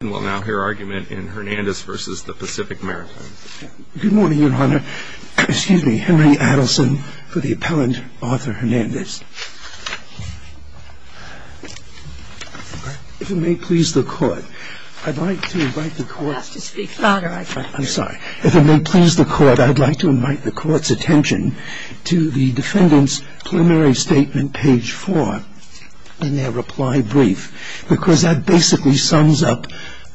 Good morning, Your Honor. Excuse me, Henry Adelson, for the appellant, Arthur Hernandez. If it may please the Court, I'd like to invite the Court's attention to the defendant's preliminary statement, page 4, in their reply brief, because that basically sums up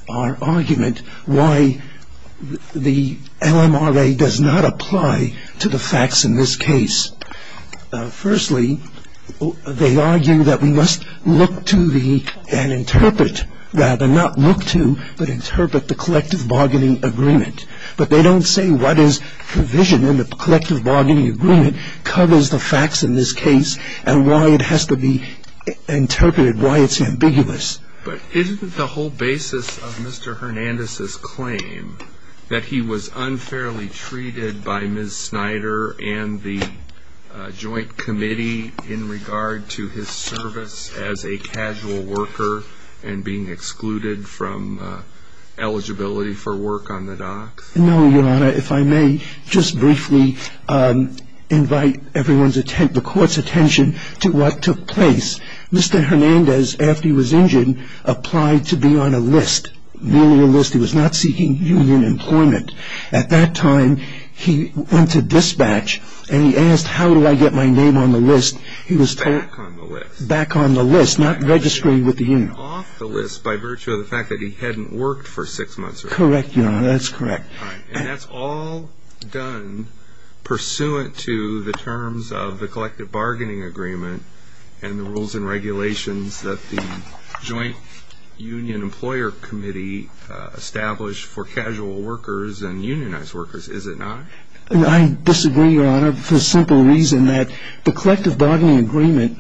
our argument why the LMRA does not apply to the facts in this case. Firstly, they argue that we must look to and interpret, rather not look to, but interpret the collective bargaining agreement. But they don't say what is provision in the collective bargaining agreement covers the facts in this case and why it has to be interpreted, why it's ambiguous. But isn't the whole basis of Mr. Hernandez's claim that he was unfairly treated by Ms. Snyder and the Joint Committee in regard to his service as a casual worker and being excluded from eligibility for work on the docks? No, Your Honor. If I may just briefly invite the Court's attention to what took place. Mr. Hernandez, after he was injured, applied to be on a list, merely a list. He was not seeking union employment. At that time, he went to dispatch and he asked, how do I get my name on the list? He was told... Back on the list. Back on the list, not registering with the union. Off the list by virtue of the fact that he hadn't worked for six months or so. Correct, Your Honor, that's correct. And that's all done pursuant to the terms of the collective bargaining agreement and the rules and regulations that the Joint Union Employer Committee established for casual workers and unionized workers, is it not? I disagree, Your Honor, for the simple reason that the collective bargaining agreement,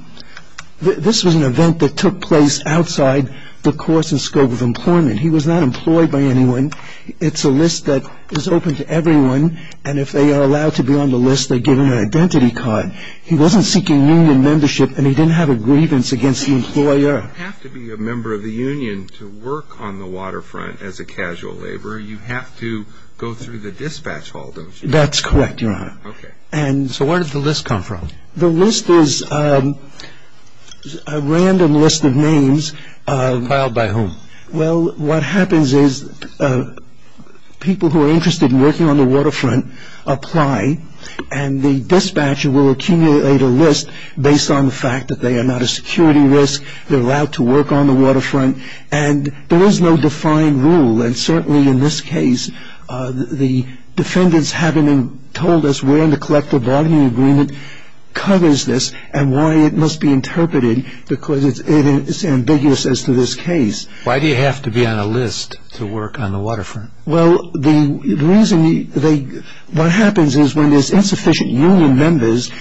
this was an event that took place outside the course and scope of employment. He was not employed by anyone. It's a list that is open to everyone, and if they are allowed to be on the list, they're given an identity card. He wasn't seeking union membership and he didn't have a grievance against the employer. You have to be a member of the union to work on the waterfront as a casual laborer. You have to go through the dispatch hall, don't you? That's correct, Your Honor. Okay. So where did the list come from? The list is a random list of names. Filed by whom? Well, what happens is people who are interested in working on the waterfront apply, and the dispatcher will accumulate a list based on the fact that they are not a security risk, they're allowed to work on the waterfront, and there is no defined rule. And certainly in this case, the defendants haven't told us where in the collective bargaining agreement covers this and why it must be interpreted because it's ambiguous as to this case. Why do you have to be on a list to work on the waterfront? Well, the reason they – what happens is when there's insufficient union members,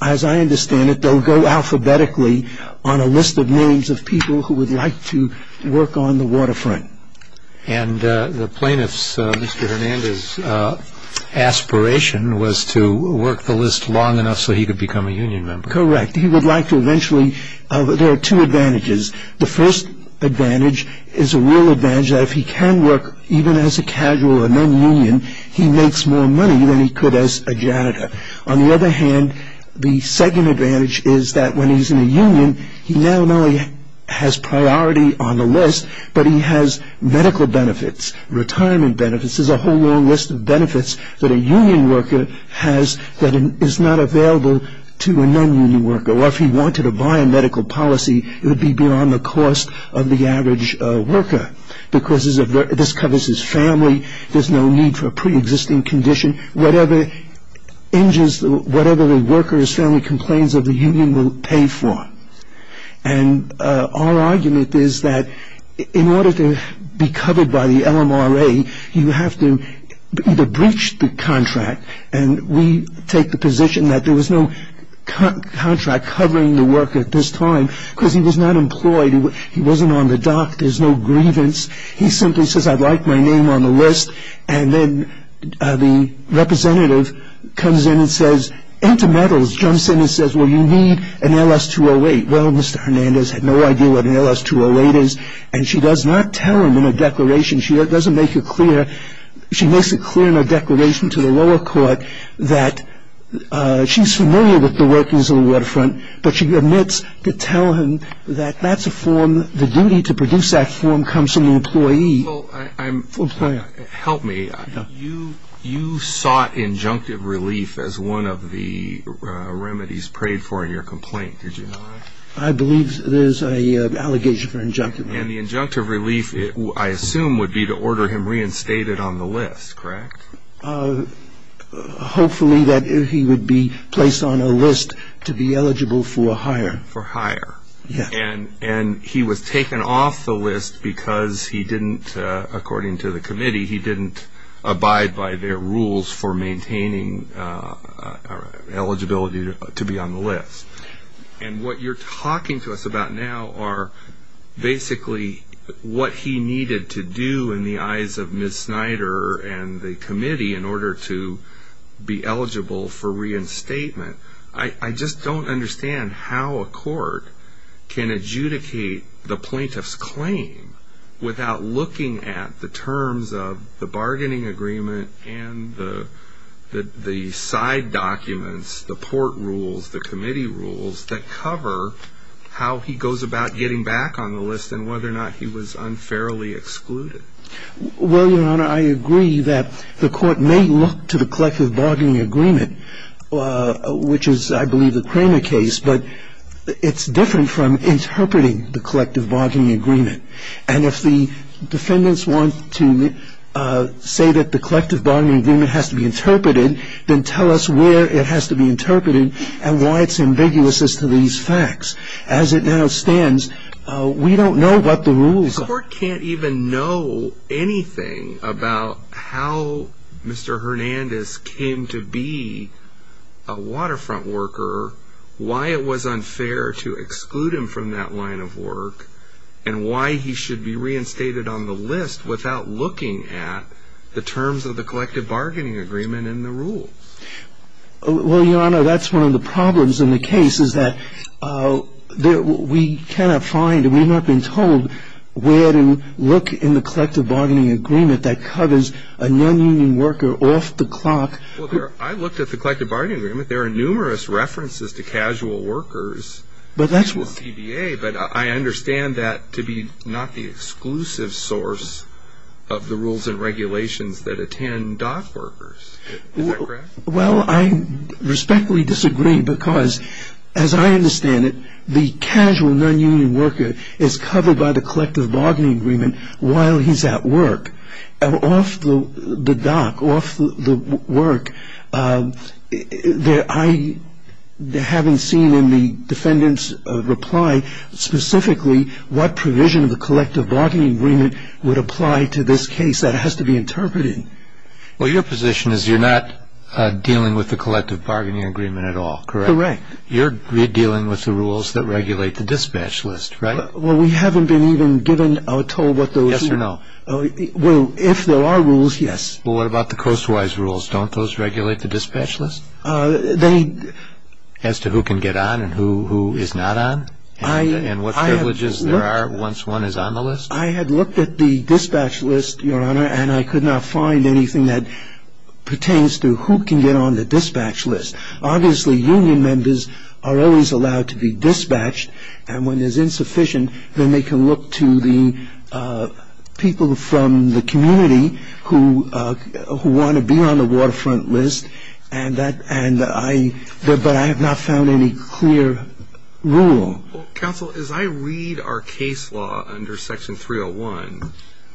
as I understand it, they'll go alphabetically on a list of names of people who would like to work on the waterfront. And the plaintiff's, Mr. Hernandez's, aspiration was to work the list long enough so he could become a union member. Correct. He would like to eventually – there are two advantages. The first advantage is a real advantage that if he can work even as a casual or non-union, he makes more money than he could as a janitor. On the other hand, the second advantage is that when he's in a union, he not only has priority on the list, but he has medical benefits, retirement benefits. There's a whole long list of benefits that a union worker has that is not available to a non-union worker. Or if he wanted to buy a medical policy, it would be beyond the cost of the average worker because this covers his family. There's no need for a preexisting condition. Whatever injures – whatever the worker's family complains of, the union will pay for. And our argument is that in order to be covered by the LMRA, you have to either breach the contract, and we take the position that there was no contract covering the worker at this time because he was not employed. He wasn't on the dock. There's no grievance. He simply says, I'd like my name on the list. And then the representative comes in and says, enter medals, jumps in and says, well, you need an LS-208. Well, Mr. Hernandez had no idea what an LS-208 is, and she does not tell him in a declaration. She doesn't make it clear. She makes it clear in a declaration to the lower court that she's familiar with the workings of the waterfront, but she admits to telling him that that's a form. The duty to produce that form comes from the employee. Help me. You sought injunctive relief as one of the remedies prayed for in your complaint, did you not? I believe there's an allegation for injunctive relief. And the injunctive relief, I assume, would be to order him reinstated on the list, correct? Hopefully that he would be placed on a list to be eligible for a hire. For hire. Yes. And he was taken off the list because he didn't, according to the committee, he didn't abide by their rules for maintaining eligibility to be on the list. And what you're talking to us about now are basically what he needed to do in the eyes of Ms. Snyder and the committee in order to be eligible for reinstatement. I just don't understand how a court can adjudicate the plaintiff's claim without looking at the terms of the bargaining agreement and the side documents, the port rules, the committee rules that cover how he goes about getting back on the list and whether or not he was unfairly excluded. Well, Your Honor, I agree that the court may look to the collective bargaining agreement, which is, I believe, the Cramer case, but it's different from interpreting the collective bargaining agreement. And if the defendants want to say that the collective bargaining agreement has to be interpreted, then tell us where it has to be interpreted and why it's ambiguous as to these facts. As it now stands, we don't know what the rules are. The court can't even know anything about how Mr. Hernandez came to be a waterfront worker, why it was unfair to exclude him from that line of work, and why he should be reinstated on the list without looking at the terms of the collective bargaining agreement and the rules. Well, Your Honor, that's one of the problems in the case is that we cannot find and we have not been told where to look in the collective bargaining agreement that covers a nonunion worker off the clock. Well, I looked at the collective bargaining agreement. There are numerous references to casual workers in the CDA, but I understand that to be not the exclusive source of the rules and regulations that attend dock workers. Is that correct? Well, I respectfully disagree because, as I understand it, the casual nonunion worker is covered by the collective bargaining agreement while he's at work, and off the dock, off the work, I haven't seen in the defendant's reply specifically what provision of the collective bargaining agreement would apply to this case. That has to be interpreted. Well, your position is you're not dealing with the collective bargaining agreement at all, correct? Correct. You're dealing with the rules that regulate the dispatch list, right? Well, if there are rules, yes. Well, what about the coast-wise rules? Don't those regulate the dispatch list as to who can get on and who is not on and what privileges there are once one is on the list? I had looked at the dispatch list, Your Honor, and I could not find anything that pertains to who can get on the dispatch list. Obviously, union members are always allowed to be dispatched, and when there's insufficient, then they can look to the people from the community who want to be on the waterfront list, but I have not found any clear rule. Counsel, as I read our case law under Section 301,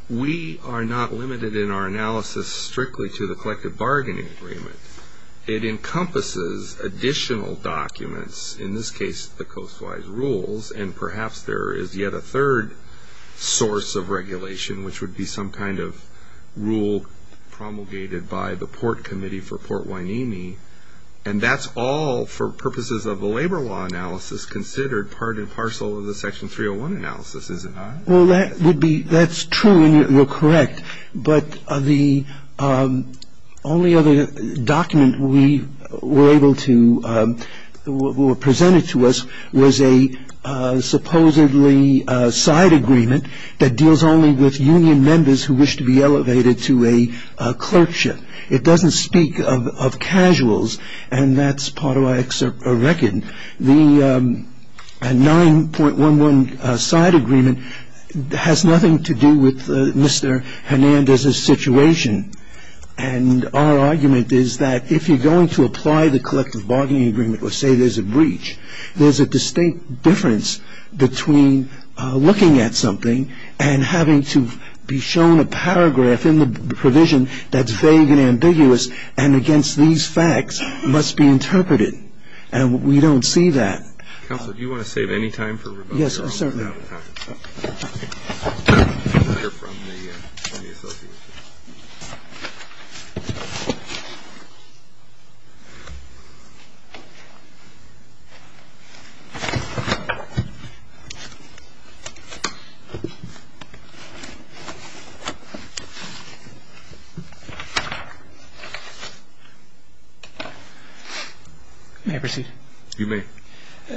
we are not limited in our analysis strictly to the collective bargaining agreement. It encompasses additional documents, in this case, the coast-wise rules, and perhaps there is yet a third source of regulation, which would be some kind of rule promulgated by the Port Committee for Port Hueneme, and that's all, for purposes of the labor law analysis, considered part and parcel of the Section 301 analysis, is it not? Well, that's true, and you're correct, but the only other document we were able to or presented to us was a supposedly side agreement that deals only with union members who wish to be elevated to a clerkship. It doesn't speak of casuals, and that's part of our record. The 9.11 side agreement has nothing to do with Mr. Hernandez's situation, and our argument is that if you're going to apply the collective bargaining agreement or say there's a breach, there's a distinct difference between looking at something and having to be shown a paragraph in the provision that's vague and ambiguous and against these facts must be interpreted, and we don't see that. Counsel, do you want to save any time for rebuttal? Yes, sir. May I proceed? You may.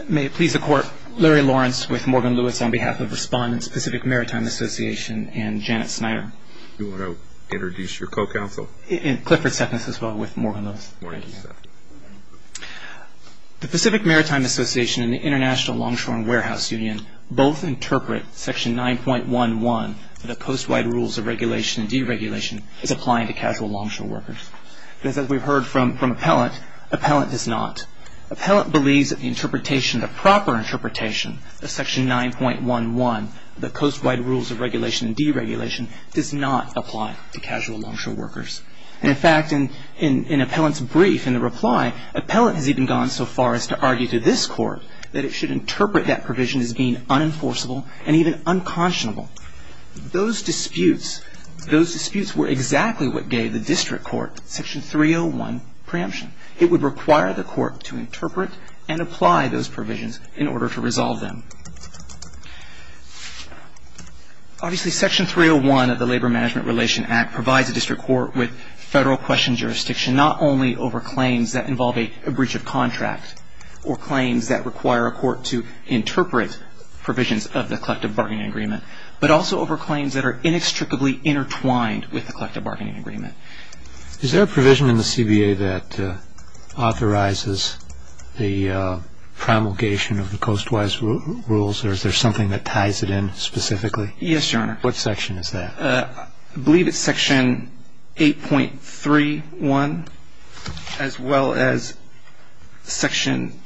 May it please the Court, Larry Lawrence with Morgan Lewis on behalf of Respondents, Pacific Maritime Association, and Janet Snyder. Do you want to introduce your co-counsel? Clifford Seffness as well with Morgan Lewis. Thank you. The Pacific Maritime Association and the International Longshore and Warehouse Union both interpret Section 9.11, the post-wide rules of regulation and deregulation, as applying to casual longshore workers. As we've heard from appellant, appellant does not. Appellant believes that the proper interpretation of Section 9.11, the post-wide rules of regulation and deregulation, does not apply to casual longshore workers. In fact, in appellant's brief, in the reply, appellant has even gone so far as to argue to this Court that it should interpret that provision as being unenforceable and even unconscionable. Those disputes were exactly what gave the district court Section 301 preemption. It would require the court to interpret and apply those provisions in order to resolve them. Obviously, Section 301 of the Labor Management Relation Act provides the district court with federal question jurisdiction, not only over claims that involve a breach of contract or claims that require a court to interpret provisions of the collective bargaining agreement, but also over claims that are inextricably intertwined with the collective bargaining agreement. Is there a provision in the CBA that authorizes the promulgation of the coast-wise rules, or is there something that ties it in specifically? Yes, Your Honor. What section is that? I believe it's Section 8.31, as well as Section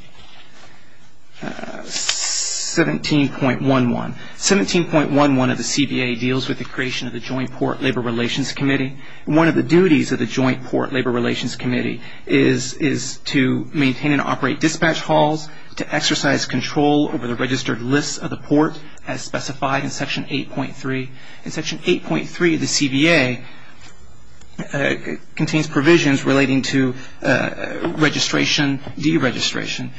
17.11. 17.11 of the CBA deals with the creation of the Joint Port Labor Relations Committee. One of the duties of the Joint Port Labor Relations Committee is to maintain and operate dispatch halls, to exercise control over the registered lists of the port, as specified in Section 8.3. In Section 8.3 of the CBA contains provisions relating to registration, deregistration.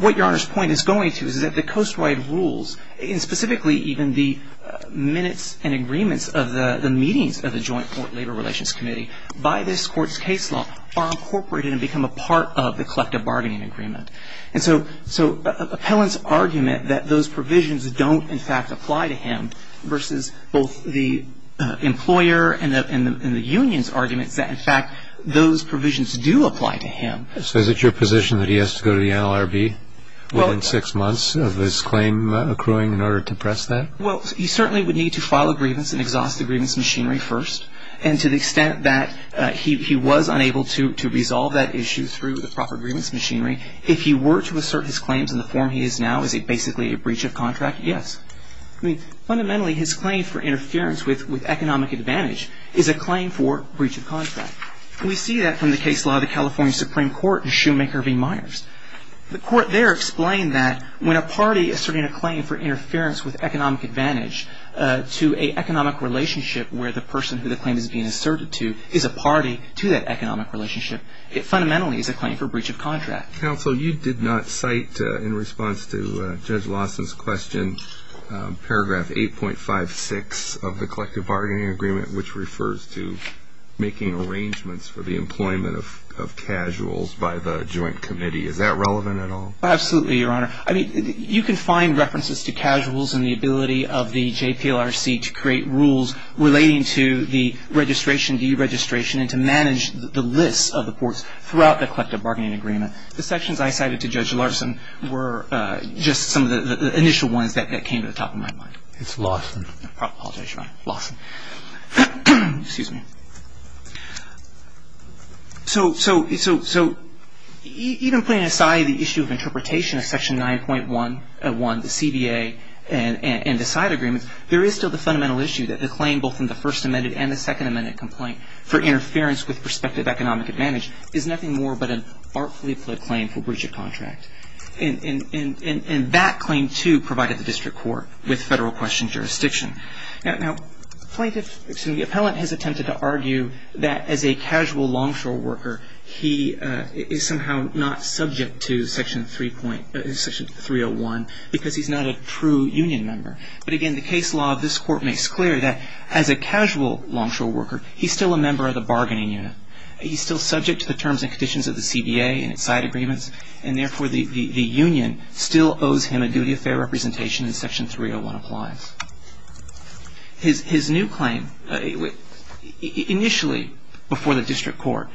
What Your Honor's point is going to is that the coast-wide rules, and specifically even the minutes and agreements of the meetings of the Joint Port Labor Relations Committee, by this Court's case law, are incorporated and become a part of the collective bargaining agreement. And so Appellant's argument that those provisions don't, in fact, apply to him, versus both the employer and the union's arguments that, in fact, those provisions do apply to him. So is it your position that he has to go to the NLRB within six months of his claim accruing in order to press that? Well, he certainly would need to file a grievance and exhaust the grievance machinery first. And to the extent that he was unable to resolve that issue through the proper grievance machinery, if he were to assert his claims in the form he is now, is it basically a breach of contract? Yes. I mean, fundamentally, his claim for interference with economic advantage is a claim for breach of contract. We see that from the case law of the California Supreme Court in Shoemaker v. Myers. The Court there explained that when a party is serving a claim for interference with economic advantage to an economic relationship where the person who the claim is being asserted to is a party to that economic relationship, it fundamentally is a claim for breach of contract. Counsel, you did not cite, in response to Judge Lawson's question, paragraph 8.56 of the Collective Bargaining Agreement, which refers to making arrangements for the employment of casuals by the joint committee. Is that relevant at all? Absolutely, Your Honor. I mean, you can find references to casuals and the ability of the JPLRC to create rules relating to the registration, deregistration, and to manage the lists of the courts throughout the Collective Bargaining Agreement. The sections I cited to Judge Lawson were just some of the initial ones that came to the top of my mind. It's Lawson. I apologize, Your Honor. Lawson. Excuse me. So even putting aside the issue of interpretation of Section 9.1, the CBA, and the side agreements, there is still the fundamental issue that the claim both in the First Amendment and the Second Amendment complaint for interference with prospective economic advantage is nothing more but an artfully fled claim for breach of contract. And that claim, too, provided the district court with federal question jurisdiction. Now, plaintiffs, excuse me, the appellant has attempted to argue that as a casual longshore worker, he is somehow not subject to Section 301 because he's not a true union member. But again, the case law of this Court makes clear that as a casual longshore worker, he's still a member of the bargaining unit. He's still subject to the terms and conditions of the CBA and its side agreements, and therefore the union still owes him a duty of fair representation as Section 301 applies. His new claim, initially before the district court,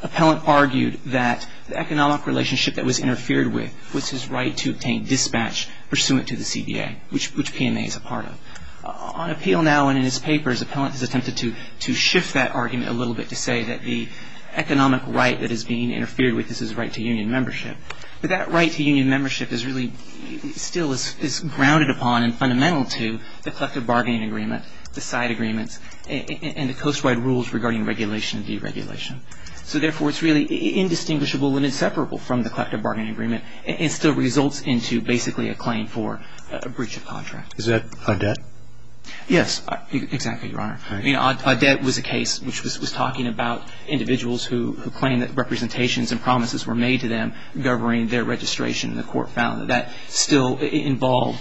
the appellant argued that the economic relationship that was interfered with was his right to obtain dispatch pursuant to the CBA, which PMA is a part of. On appeal now and in his papers, the appellant has attempted to shift that argument a little bit to say that the economic right that is being interfered with is his right to union membership. But that right to union membership is really still is grounded upon and fundamental to the collective bargaining agreement, the side agreements, and the coast-wide rules regarding regulation and deregulation. So therefore, it's really indistinguishable and inseparable from the collective bargaining agreement and still results into basically a claim for a breach of contract. Is that Audet? Yes, exactly, Your Honor. Audet was a case which was talking about individuals who claim that representations and promises were made to them governing their registration, and the court found that that still involved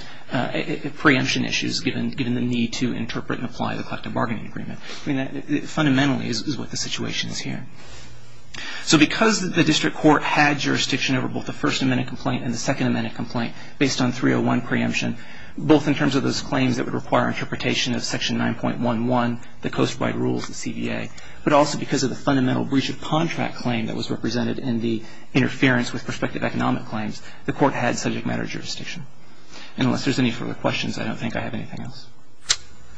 preemption issues given the need to interpret and apply the collective bargaining agreement. Fundamentally is what the situation is here. So because the district court had jurisdiction over both the First Amendment complaint and the Second Amendment complaint based on 301 preemption, both in terms of those claims that would require interpretation of Section 9.11, the coast-wide rules, the CBA, but also because of the fundamental breach of contract claim that was represented in the interference with prospective economic claims, the court had subject matter jurisdiction. And unless there's any further questions, I don't think I have anything else.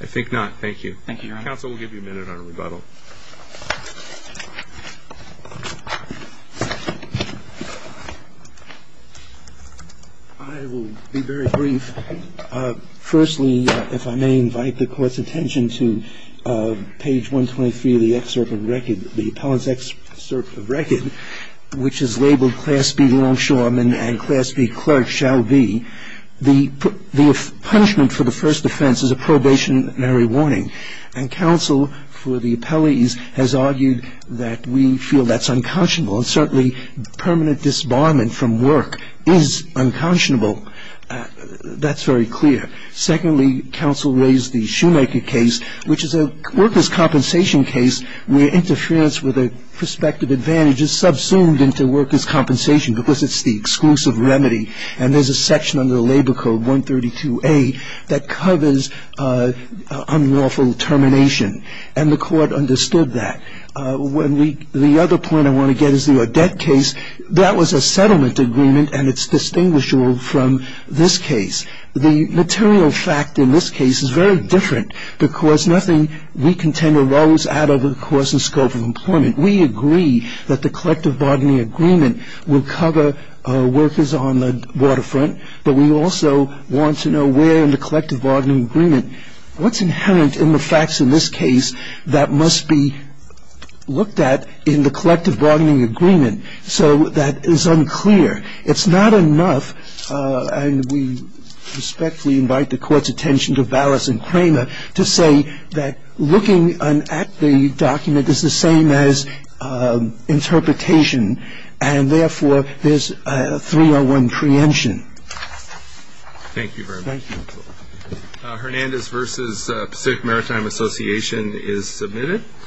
I think not. Thank you. Thank you, Your Honor. Counsel will give you a minute on rebuttal. I will be very brief. Firstly, if I may invite the Court's attention to page 123 of the excerpt of record, the appellant's excerpt of record, which is labeled Class B Longshoreman and Class B Clerk shall be. The punishment for the first offense is a probationary warning, and counsel for the appellees has argued that we feel that's unconscionable, and certainly permanent disbarment from work is unconscionable. That's very clear. Secondly, counsel raised the Shoemaker case, which is a workers' compensation case where interference with a prospective advantage is subsumed into workers' compensation because it's the exclusive remedy. And there's a section under the Labor Code, 132A, that covers unlawful termination, and the Court understood that. The other point I want to get is the Odette case. That was a settlement agreement, and it's distinguishable from this case. The material fact in this case is very different because nothing we contend arose out of the course and scope of employment. We agree that the collective bargaining agreement will cover workers on the waterfront, but we also want to know where in the collective bargaining agreement, what's inherent in the facts in this case that must be looked at in the collective bargaining agreement? So that is unclear. It's not enough, and we respectfully invite the Court's attention to Vallis and Kramer, to say that looking at the document is the same as interpretation, and therefore there's a 301 preemption. Thank you very much. Thank you. Hernandez v. Pacific Maritime Association is submitted.